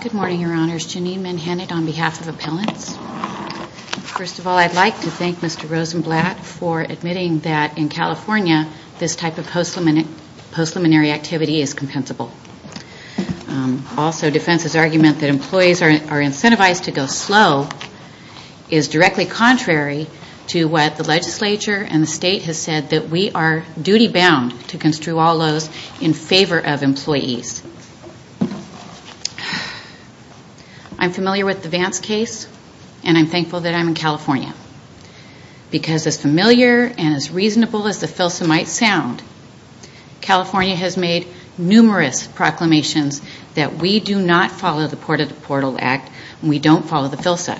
Good morning, Your Honors. Janine Manhattan on behalf of Appellants. First of all, I'd like to thank Mr. Rosenblatt for admitting that in California this type of postluminary activity is compensable. Also, defense's argument that employees are incentivized to go slow is directly contrary to what the legislature and the state have said, that we are duty bound to construe all laws in favor of employees. I'm familiar with the Vance case and I'm thankful that I'm in California. Because as familiar and as reasonable as the filsa might sound, California has made numerous proclamations that we do not follow the Port of Deportal Act and we don't follow the filsa.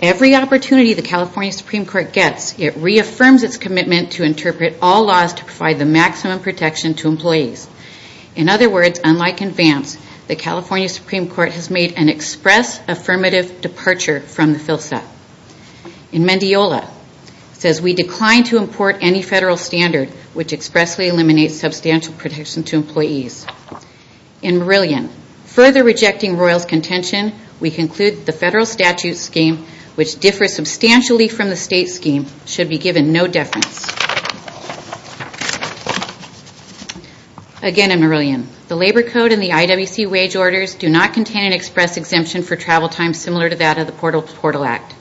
Every opportunity the California Supreme Court gets, it reaffirms its commitment to interpret all laws to provide the maximum protection to employees. In other words, unlike in Vance, the California Supreme Court has made an express affirmative departure from the filsa. In Mendiola, it says we decline to import any federal standard which expressly eliminates substantial protection to employees. In Merillion, further rejecting Royall's contention, we conclude the federal statute scheme, which differs substantially from the state scheme, should be given no deference. Again in Merillion, the labor code and the IWC wage orders do not contain an express exemption for travel time similar to that of the Port of Deportal Act.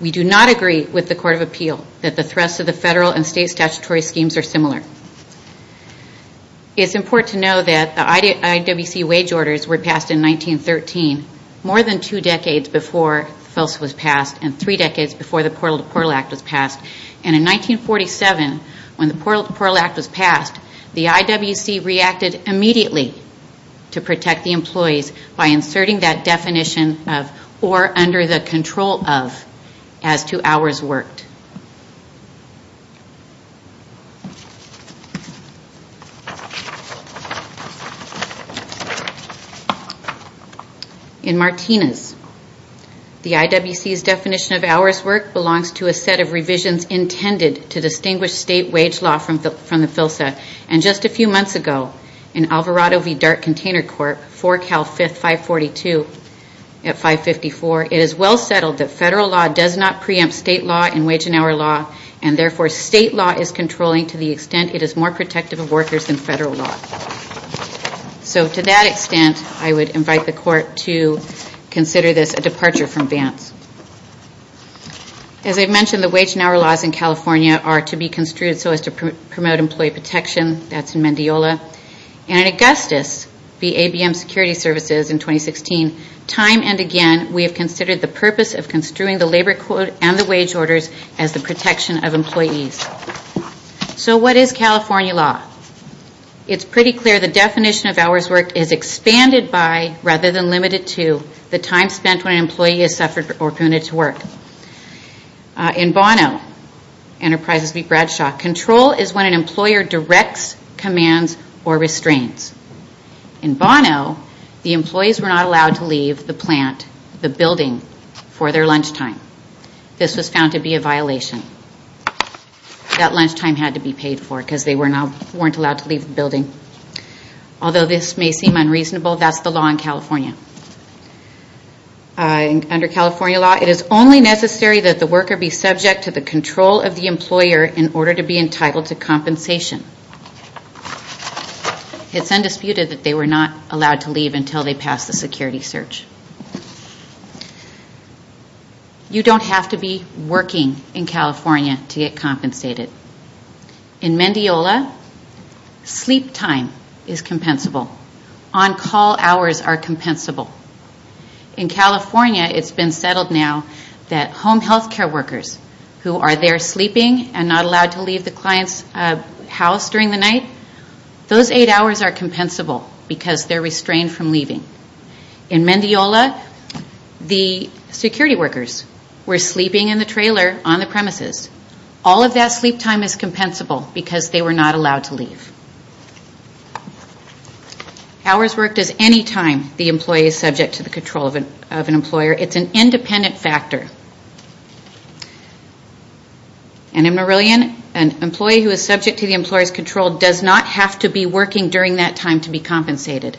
We do not agree with the Court of Appeal that the rest of the federal and state statutory schemes are similar. It is important to know that the IWC wage orders were passed in 1913, more than two decades before the filsa was passed and three decades before the Port of Deportal Act was passed. In 1947, when the Port of Deportal Act was passed, the IWC reacted immediately to protect the employees by inserting that exemption. In Martinez, the IWC's definition of hours worked belongs to a set of revisions intended to distinguish state wage law from the filsa. Just a few months ago, in Alvarado v. Dart Container Corp., 4 Cal 5, 542 at 554, it is well settled that federal law does not and therefore state law is controlling to the extent it is more protective of workers than federal law. So to that extent, I would invite the Court to consider this a departure from Vance. As I've mentioned, the wage and hour laws in California are to be construed so as to promote employee protection. That's in Mendiola. And in Augustus v. ABM Security Services in 2016, time and again we have considered the purpose of construing the labor code and the protection of employees. So what is California law? It's pretty clear the definition of hours worked is expanded by, rather than limited to, the time spent when an employee has suffered or committed to work. In Bono, Enterprises v. Bradshaw, control is when an employer directs, commands or restrains. In Bono, the employees were not allowed to leave the plant, the building for their lunchtime. This was found to be a violation. That lunchtime had to be paid for because they weren't allowed to leave the building. Although this may seem unreasonable, that's the law in California. Under California law, it is only necessary that the worker be subject to the control of the employer in order to be entitled to compensation. It's You don't have to be working in California to get compensated. In Mendiola, sleep time is compensable. On-call hours are compensable. In California it's been settled now that home health care workers who are there sleeping and not allowed to leave the client's house during the night, those eight hours are compensable because they're restrained from leaving. In workers were sleeping in the trailer on the premises. All of that sleep time is compensable because they were not allowed to leave. Hours worked as any time the employee is subject to the control of an employer. It's an independent factor. In Marillion, an employee who is subject to the employer's control does not have to be working during that time to be compensated.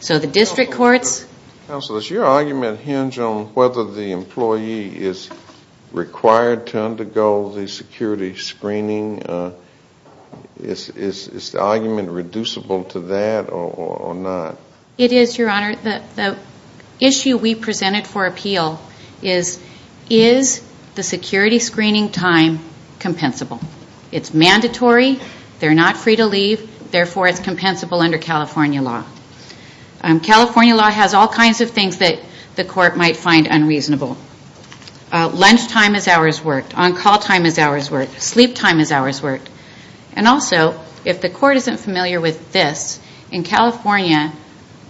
So the district courts... Counsel, does your argument hinge on whether the employee is required to undergo the security screening? Is the argument reducible to that or not? It is, Your Honor. The issue we presented for appeal is, is the security screening time compensable? It's mandatory. They're not free to leave. Therefore, it's compensable under California law. California law has all kinds of things that the court might find unreasonable. Lunch time is hours worked. On-call time is hours worked. Sleep time is hours worked. And also, if the court isn't familiar with this, in California,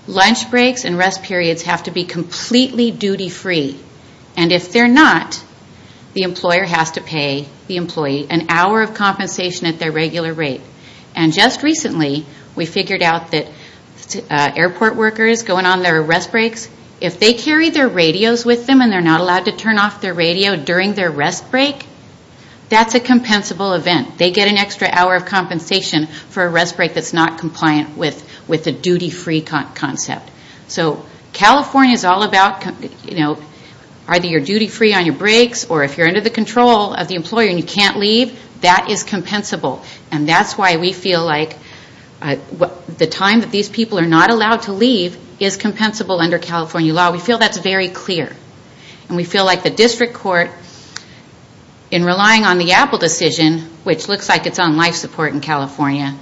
lunch breaks and rest periods have to be completely duty-free. And if they're not, the employer has to pay the employee an hour of compensation at their regular rate. And just recently, we figured out that airport workers going on their rest breaks, if they carry their radios with them and they're not allowed to turn off their radio during their rest break, that's a compensable event. They get an extra hour of compensation for a rest break that's not compliant with the duty-free concept. So California is all about, you know, either you're duty-free on your breaks or if you're under the control of the employer and you can't leave, that is compensable. And that's why we feel like the time that these people are not allowed to leave is compensable under California law. We feel that's very clear. And we feel like the district court, in relying on the Apple decision, which looks like it's on life support in California,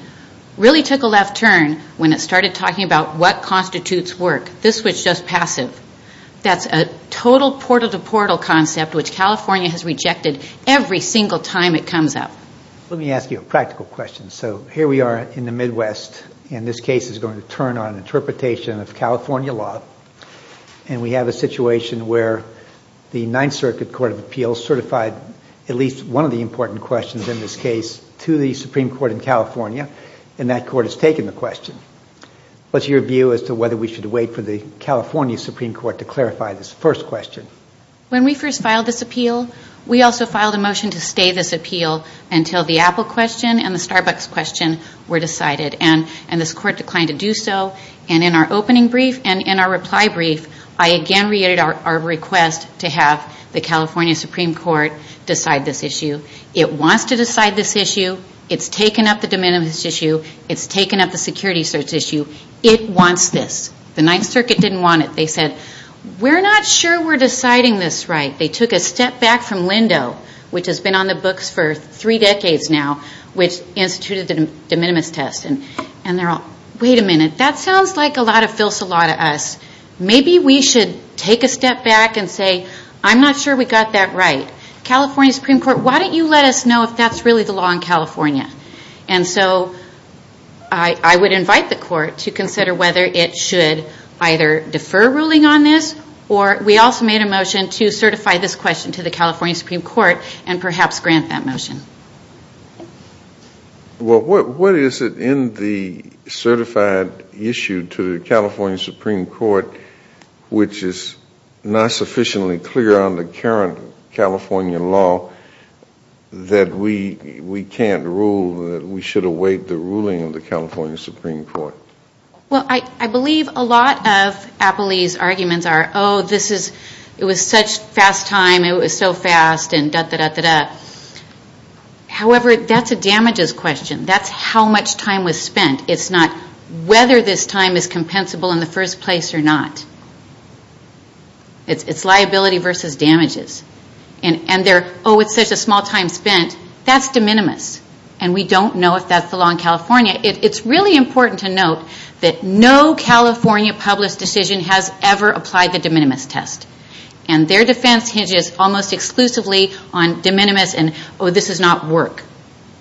really took a left turn when it started talking about what constitutes work. This was just passive. That's a total portal-to-portal concept which California has rejected every single time it comes up. Let me ask you a practical question. So here we are in the Midwest, and this case is going to turn on interpretation of California law. And we have a situation where the Ninth Circuit Court of Appeals certified at least one of the important questions in this case to the Supreme Court in California, and that court has taken the question. What's your view as to whether we should wait for the California Supreme Court to clarify this first question? When we first filed this appeal, we also filed a motion to stay this appeal until the Apple question and the Starbucks question were decided. And this court declined to do so. And in our opening brief and in our reply brief, I again reiterated our request to have the California Supreme Court decide this issue. It wants to decide this issue. It's taken up the de minimis issue. It's taken up the security search issue. It wants this. The Ninth Circuit didn't want it. They said, we're not sure we're deciding this right. They took a step back from Lindo, which has been on the books for three decades now, which instituted the de minimis test. And they're all, wait a minute, that sounds like a lot of filsa law to us. Maybe we should take a step back and say, I'm not sure we got that right. California Supreme Court, why don't you let us know if that's really the law in California? And so I would invite the court to consider whether it should either defer ruling on this or we also made a motion to certify this question to the California Supreme Court and perhaps grant that motion. Well, what is it in the certified issue to the California Supreme Court which is not sufficiently clear on the current California law that we can't rule that we should await the ruling of the California Supreme Court? Well, I believe a lot of Appley's arguments are, oh, this is, it was such fast time, it was so fast, and da, da, da, da, da. However, that's a damages question. That's how much time was spent. It's not whether this time is compensable in the first place or not. It's liability versus damages. And they're, oh, it's such a small time spent. That's de California. It's really important to note that no California published decision has ever applied the de minimis test. And their defense hinges almost exclusively on de minimis and, oh, this does not work.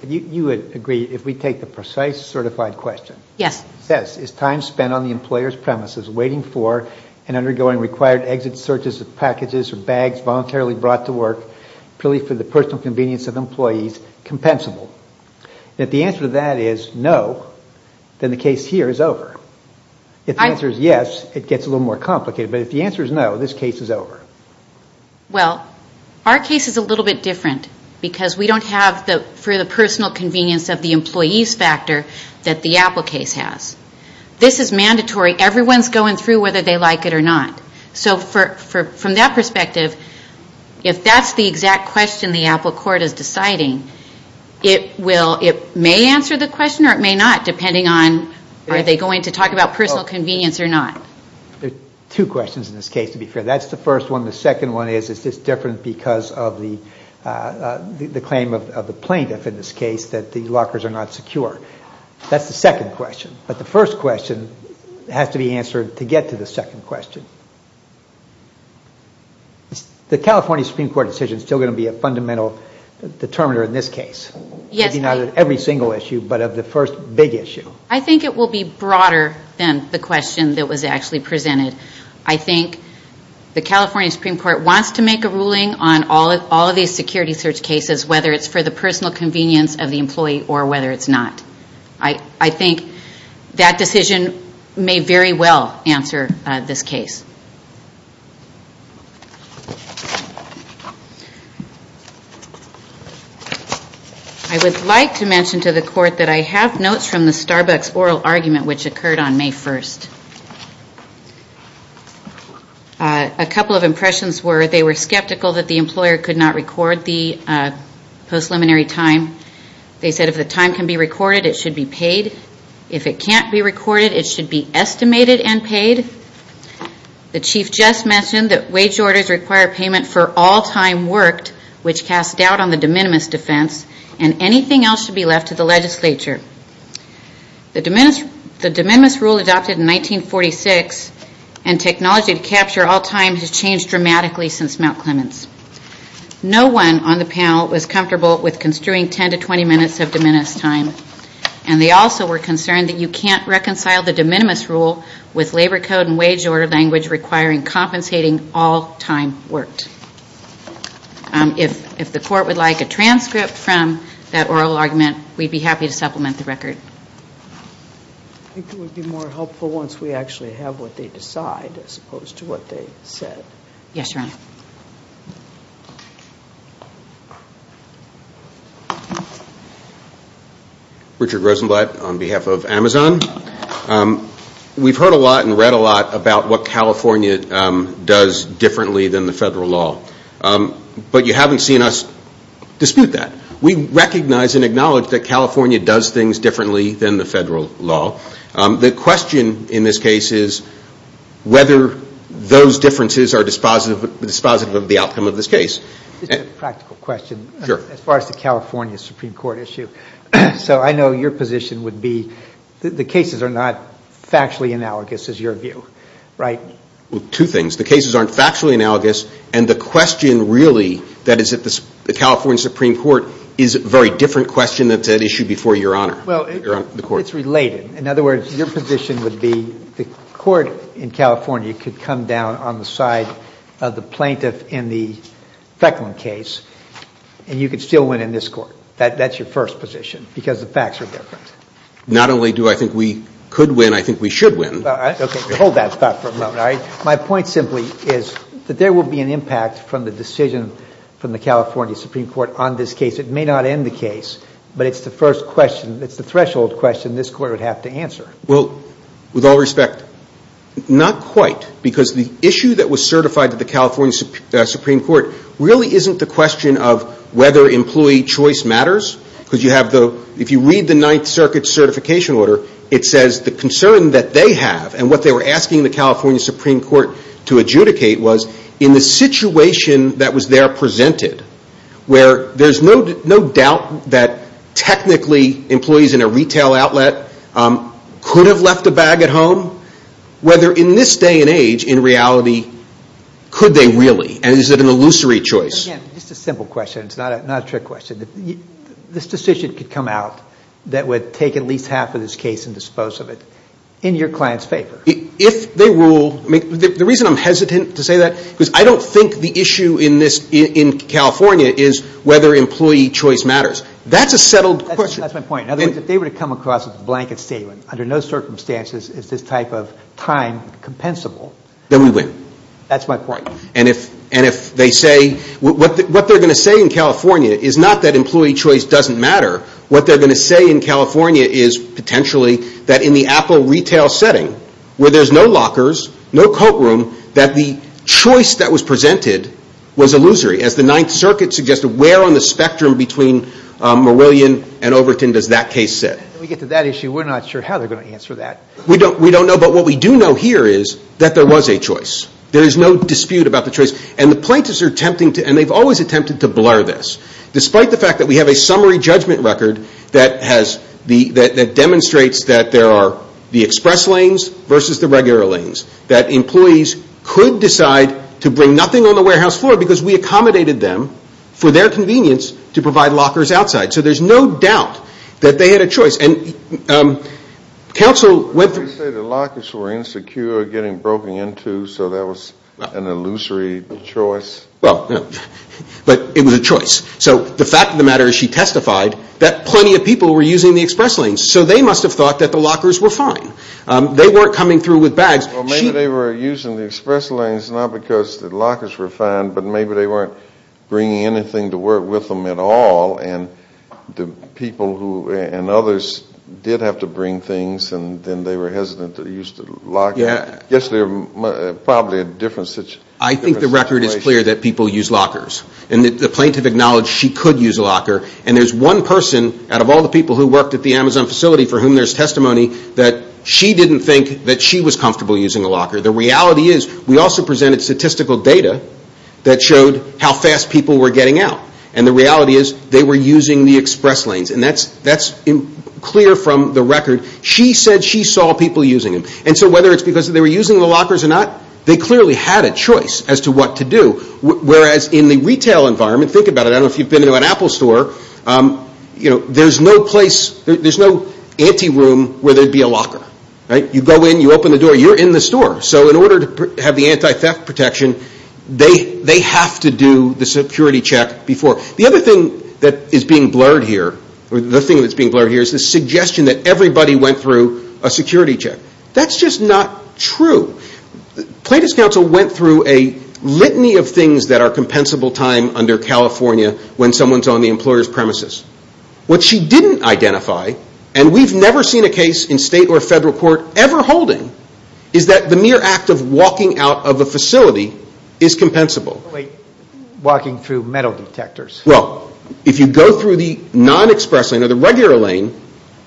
You would agree if we take the precise certified question. Yes. Yes. Is time spent on the employer's premises waiting for and undergoing required exit searches of packages or bags voluntarily brought to work purely for the personal convenience of the employee. If the answer is no, then the case here is over. If the answer is yes, it gets a little more complicated. But if the answer is no, this case is over. Well, our case is a little bit different because we don't have the, for the personal convenience of the employee's factor that the Apple case has. This is mandatory. Everyone's going through whether they like it or not. So for, from that perspective, if that's the exact question the Apple court is deciding, it will, it may answer the question or it may not, depending on are they going to talk about personal convenience or not. There are two questions in this case, to be fair. That's the first one. The second one is, is this different because of the claim of the plaintiff in this case that the lockers are not secure? That's the second question. But the first question has to be answered to get to the second question. The California Supreme Court decision is still going to be a fundamental determiner in this case. Yes. Maybe not of every single issue, but of the first big issue. I think it will be broader than the question that was actually presented. I think the California Supreme Court wants to make a ruling on all of these security search cases, whether it's for the personal convenience of the employee or whether it's not. I think that decision may very well answer this case. I would like to mention to the court that I have notes from the Starbucks oral argument which occurred on May 1st. A couple of impressions were they were skeptical that the employer could not record the post-liminary time. They said if the time can be recorded, it should be paid. If it can't be recorded, it should be estimated and paid. The chief just mentioned that wage orders require payment for all time worked which cast doubt on the de minimis defense and anything else should be left to the legislature. The de minimis rule adopted in 1946 and technology to capture all time has changed dramatically since Mount Clements. No one on the panel was comfortable with construing 10 to 20 minutes of de minimis time. And they also were concerned that you can't reconcile the de minimis rule with labor code and wage order language requiring compensating all time worked. If the court would like a transcript from that oral argument, we'd be happy to supplement the record. I think it would be more helpful once we actually have what they decide as opposed to what they said. Yes, Your Honor. Richard Rosenblatt on behalf of Amazon. We've heard a lot and read a lot about what California does differently than the federal law. But you haven't seen us dispute that. We recognize and acknowledge that California does things differently than the federal law. The question in this case is whether those differences are dispositive of the outcome of this case. Practical question. As far as the California Supreme Court issue. So I know your position would be that the cases are not factually analogous is your view, right? Two things. The cases aren't factually analogous and the question really that is at the California Supreme Court is a very different question that's at issue before Your Honor. Well, it's related. In other words, your position would be the court in California could come down on the side of the plaintiff in the Fecklin case and you could still win in this court. That's your first position because the facts are different. Not only do I think we could win, I think we should win. Okay, hold that thought for a moment, all right? My point simply is that there will be an impact from the decision from the California Supreme Court on this case. It may not end the case, but it's the threshold question this court would have to answer. With all respect, not quite because the issue that was certified to the California Supreme Court really isn't the question of whether employee choice matters. If you read the Ninth Circuit Certification Order, it says the concern that they have and what they were asking the California Supreme Court to adjudicate was in the situation that was there presented where there's no doubt that technically employees in a retail outlet could have left a bag at home. Whether in this day and age, in reality, could they really and is it an illusory choice? Again, just a simple question. It's not a trick question. This decision could come out that would take at least half of this case and dispose of it in your client's favor. If they rule, the reason I'm hesitant to say that, because I don't think the issue in California is whether employee choice matters. That's a settled question. That's my point. In other words, if they were to come across with a blanket statement, under no circumstances is this type of time compensable, then we win. That's my point. And if they say, what they're going to say in California is not that employee choice doesn't matter. What they're going to say in California is potentially that in the Apple retail setting, where there's no lockers, no coat room, that the choice that was presented was illusory. As the Ninth Circuit suggested, where on the spectrum between Marillion and Overton does that case sit? When we get to that issue, we're not sure how they're going to answer that. We don't know. But what we do know here is that there was a choice. There is no dispute about the choice. And the plaintiffs are attempting to, and they've always attempted to blur this. Despite the fact that we have a summary judgment record that has, that demonstrates that there are the express lanes versus the regular lanes, that employees could decide to bring nothing on the warehouse floor because we accommodated them for their convenience to provide lockers outside. So there's no doubt that they had a choice. And counsel went through Did they say the lockers were insecure, getting broken into, so that was an illusory choice? But it was a choice. So the fact of the matter is she testified that plenty of people were lockers were fine. They weren't coming through with bags. Well, maybe they were using the express lanes not because the lockers were fine, but maybe they weren't bringing anything to work with them at all. And the people who, and others, did have to bring things, and then they were hesitant to use the locker. Yeah. Yes, they were probably in a different situation. I think the record is clear that people use lockers. And the plaintiff acknowledged she could use a locker. And there's one person out of all the people who worked at the Amazon facility for whom there's testimony that she didn't think that she was comfortable using a locker. The reality is we also presented statistical data that showed how fast people were getting out. And the reality is they were using the express lanes. And that's clear from the record. She said she saw people using them. And so whether it's because they were using the lockers or not, they clearly had a choice as to what to do. Whereas in the retail environment, think about it. I don't know if you've been to an Apple store. There's no anti-room where there'd be a locker. You go in, you open the door, you're in the store. So in order to have the anti-theft protection, they have to do the security check before. The other thing that is being blurred here is the suggestion that everybody went through a security check. That's just not true. Plaintiff's counsel went through a litany of things that premises. What she didn't identify, and we've never seen a case in state or federal court ever holding, is that the mere act of walking out of a facility is compensable. If you go through the non-express lane or the regular lane,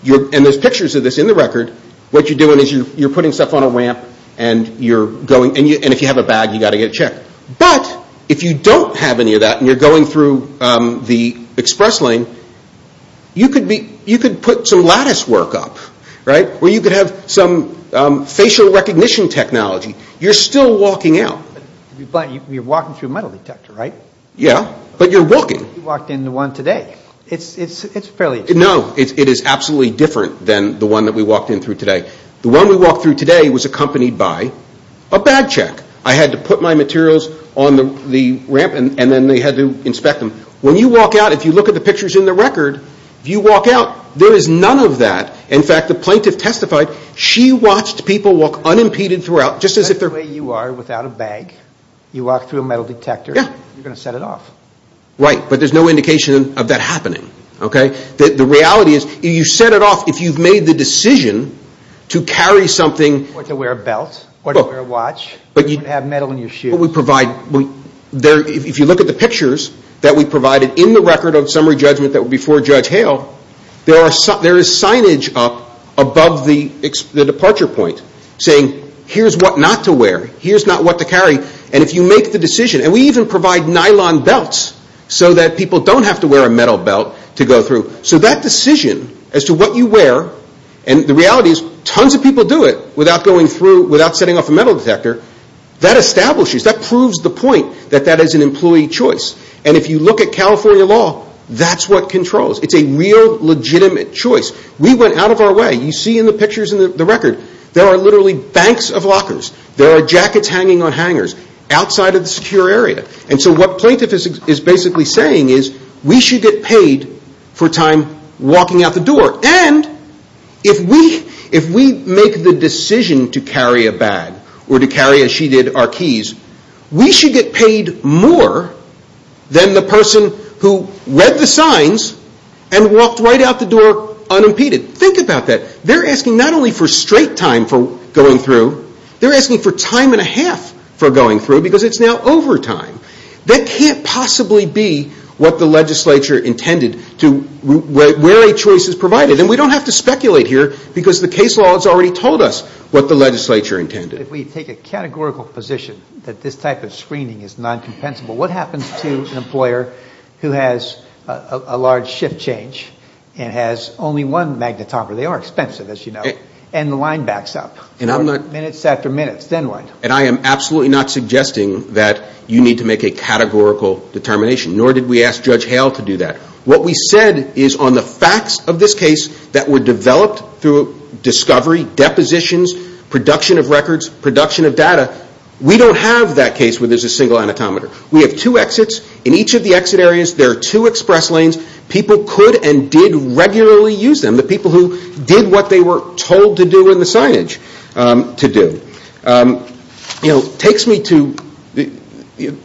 and there's pictures of this in the record, what you're doing is you're putting stuff on a ramp and if you have a bag, you've got to get a check. But if you don't have any of that and you're going through the express lane, you could put some lattice work up, where you could have some facial recognition technology. You're still walking out. But you're walking through a metal detector, right? Yeah, but you're walking. You walked in the one today. It's fairly... No, it is absolutely different than the one that we walked in through today. The one we had to put my materials on the ramp and then they had to inspect them. When you walk out, if you look at the pictures in the record, you walk out, there is none of that. In fact, the plaintiff testified, she watched people walk unimpeded throughout, just as if they're... That's the way you are without a bag. You walk through a metal detector, you're going to set it off. Right, but there's no indication of that happening. The reality is, you set it off if you've made the decision to carry something... If you look at the pictures that we provided in the record of summary judgment before Judge Hale, there is signage up above the departure point saying, here's what not to wear, here's not what to carry. And if you make the decision, and we even provide nylon belts so that people don't have to wear a metal belt to go through. So that decision as to what you wear, and the reality is, tons of people do it without going through, without setting off a metal detector, that establishes, that proves the point that that is an employee choice. And if you look at California law, that's what controls. It's a real legitimate choice. We went out of our way. You see in the pictures in the record, there are literally banks of lockers, there are jackets hanging on hangers, outside of the secure area. And so what plaintiff is basically saying is, we should get paid for time walking out the door. And if we make the decision to carry a bag, or to carry as she did, our keys, we should get paid more than the person who read the signs and walked right out the door unimpeded. Think about that. They're asking not only for straight time for going through, they're asking for time and a half for going through because it's now overtime. That can't possibly be what the legislature intended to wear a choice as provided. And we don't have to speculate here because the case law has already told us what the legislature intended. If we take a categorical position that this type of screening is non-compensable, what happens to an employer who has a large shift change and has only one magnet topper? They are expensive, as you know. And the line backs up, minutes after minutes, then what? And I am absolutely not suggesting that you need to make a categorical determination, nor did we ask Judge Hale to do that. What we said is on the facts of this case that were developed through discovery, depositions, production of records, production of data, we don't have that case where there is a single anatometer. We have two exits. In each of the exit areas, there are two express lanes. People could and did regularly use them. The people who did what they were told to do in the signage to do.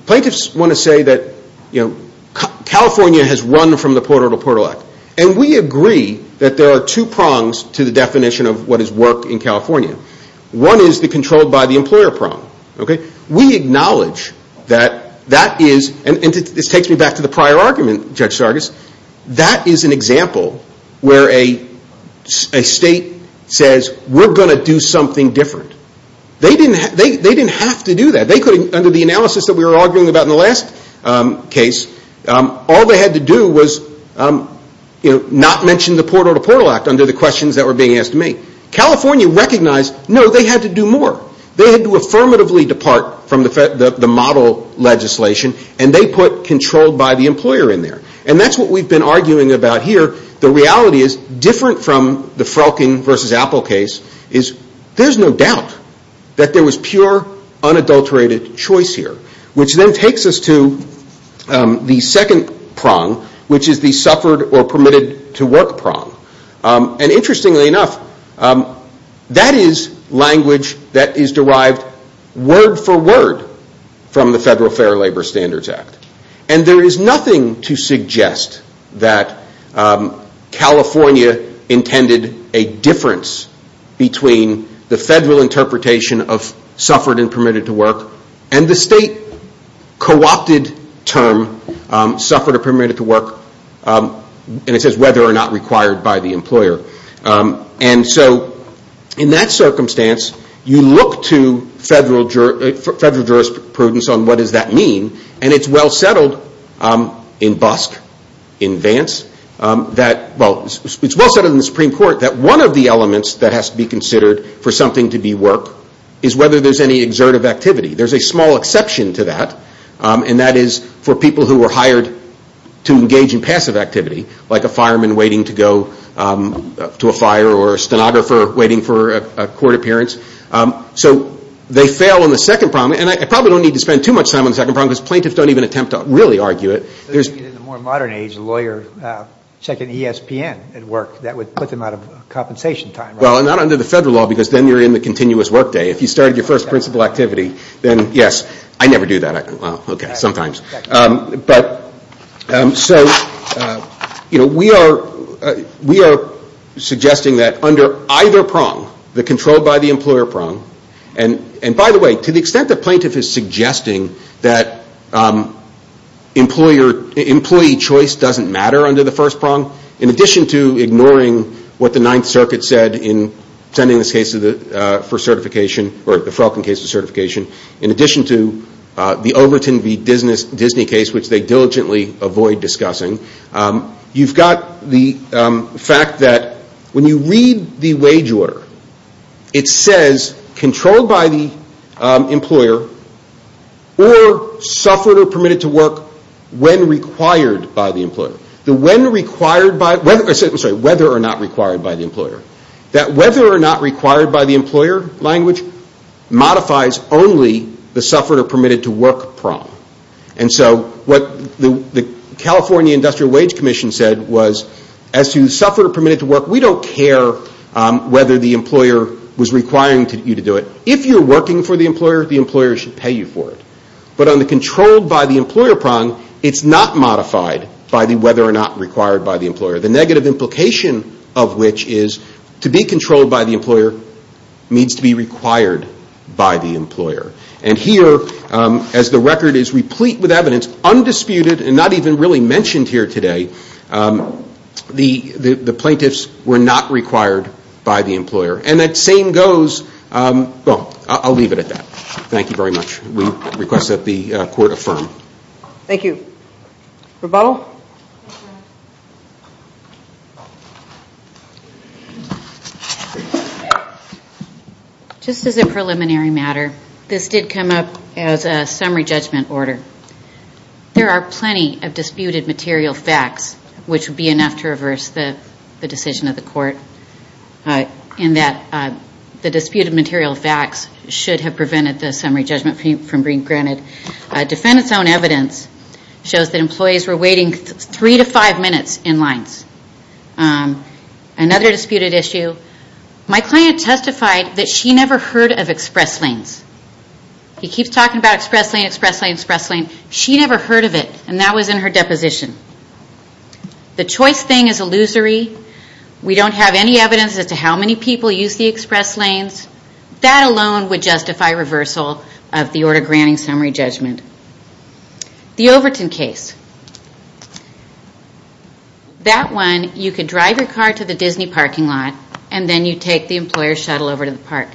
Plaintiffs want to say that California has run from the portal to portal act. And we agree that there are two prongs to the definition of what is work in California. One is the controlled by the employer prong. We acknowledge that that is, and this takes me back to the prior argument, Judge Sargas, that is an example where a state says we are going to do something different. They didn't have to do that. They could, under the analysis that we were arguing about in the last case, all they had to do was not mention the portal to portal act under the questions that were being asked to me. California recognized, no, they had to do more. They had to affirmatively depart from the model legislation and they put controlled by the employer in there. And that is what we have been arguing about here. The reality is different from the Frolking v. Apple case is there is no doubt that there was pure unadulterated choice here. Which then takes us to the second prong, which is the suffered or permitted to work prong. And interestingly enough, that is language that is derived word for word from the Federal Fair Labor Standards Act. And there is nothing to suggest that California intended a difference between the federal interpretation of suffered and permitted to work and the state co-opted term, suffered or permitted to work, and it says whether or not required by the employer. And so in that circumstance, you look to federal jurisprudence on what does that mean, and it is well settled in BUSC, in Vance, that it is well settled in the Supreme Court that one of the elements that has to be considered for something to be work is whether there is any exertive activity. There is a small exception to that, and that is for people who were hired to engage in passive activity, like a fireman waiting to go to a fire or a stenographer waiting for a court appearance. So they fail in the second prong, and I probably don't need to spend too much time on the second prong because plaintiffs don't even attempt to really argue it. In the more modern age, a lawyer checking ESPN at work, that would put them out of compensation time, right? Well, not under the federal law because then you are in the continuous workday. If you started your first principal activity, then yes, I never do that. Okay, sometimes. We are suggesting that under either prong, the controlled by the employer prong, and by the way, to the extent that plaintiff is suggesting that employee choice doesn't matter under the first prong, in addition to ignoring what the Ninth Circuit said in sending this case for certification, in addition to the Overton v. Disney case, which they diligently avoid discussing, you've got the fact that when you read the wage order, it says controlled by the employer or suffered or permitted to work when required by the employer. Whether or not required by the employer. That whether or not required by the employer language modifies only the suffered or permitted to work prong. And so what the California Industrial Wage Commission said was, as to suffered or permitted to work, we don't care whether the employer was requiring you to do it. If you are working for the employer, the employer should pay you for it. But on the controlled by the employer prong, it's not modified by the whether or not required by the employer. The negative implication of which is to be controlled by the employer needs to be required by the employer. And here, as the record is replete with evidence, undisputed, and not even really mentioned here today, the plaintiffs were not required by the employer. And that same goes, well, I'll leave it at that. Thank you very much. We request that the court affirm. Thank you. Rebuttal? Just as a preliminary matter, this did come up as a summary judgment order. There are plenty of disputed material facts, which would be enough to reverse the decision of the court in that the disputed material facts should have prevented the summary judgment from being granted. Defendant's own evidence shows that employees were waiting three to five minutes in lines. Another disputed issue, my client testified that she never heard of express lanes. He keeps talking about express lane, express lane, express lane. She never heard of it, and that was in her deposition. The choice thing is illusory. We don't have any evidence as to how many people use the express lanes. That alone would justify reversal of the order granting summary judgment. The Overton case. That one, you could drive your car to the Disney parking lot, and then you take the employer's shuttle over to the park.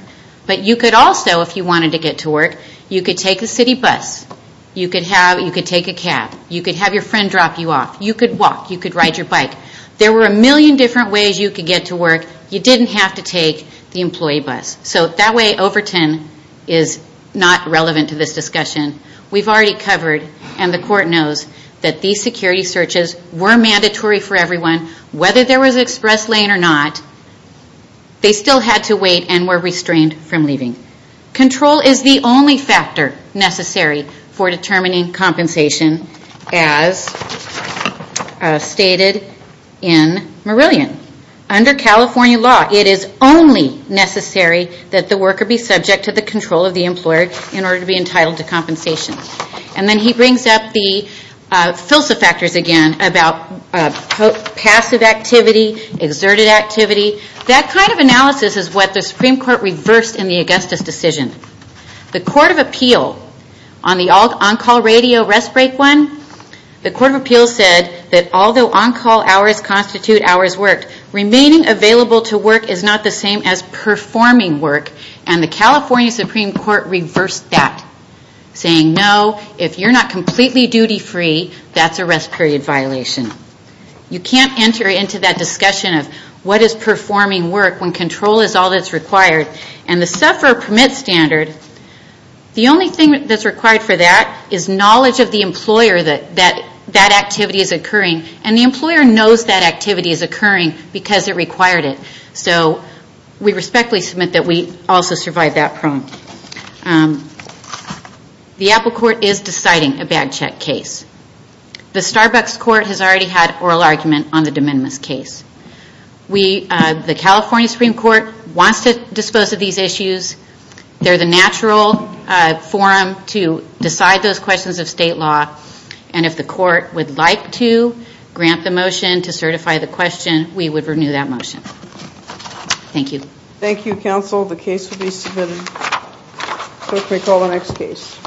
But you could also, if you wanted to get to work, you could take the city bus. You could take a cab. You could have your friend drop you off. You could walk. You could ride your bike. There were a million different ways you could get to work. You didn't have to take the employee bus. So that way, Overton is not relevant to this discussion. We've already covered, and the court knows, that these security searches were mandatory for everyone. Whether there was an express lane or not, they still had to wait and were restrained from leaving. Control is the only factor necessary for determining compensation, as stated in Marillion. Under California law, it is only necessary that the worker be subject to the control of the employer in order to be entitled to compensation. And then he brings up the FILSA factors again, about passive activity, exerted activity. That kind of analysis is what the Supreme Court reversed in the Augustus decision. The Court of Appeal, on the on-call radio rest break one, the Court of Appeal said that although on-call hours constitute hours worked, remaining available to work is not the same as performing work. And the California Supreme Court reversed that, saying no, if you're not completely duty free, that's a rest period violation. You can't enter into that discussion of what is performing work when control is all that's required. And the sufferer permit standard, the only thing that's required for that is knowledge of the employer that that activity is occurring, and the employer knows that activity is occurring because it required it. So we respectfully submit that we also survived that problem. The Apple Court is deciding a bag check case. The Starbucks Court has already had oral argument on the de minimis case. The California Supreme Court wants to dispose of these issues. They're the natural forum to decide those questions of state law, and if the court would like to grant the motion to certify the question, we would renew that motion. Thank you. Thank you, counsel. The case will be submitted. We'll take the next case. Thank you, counsel.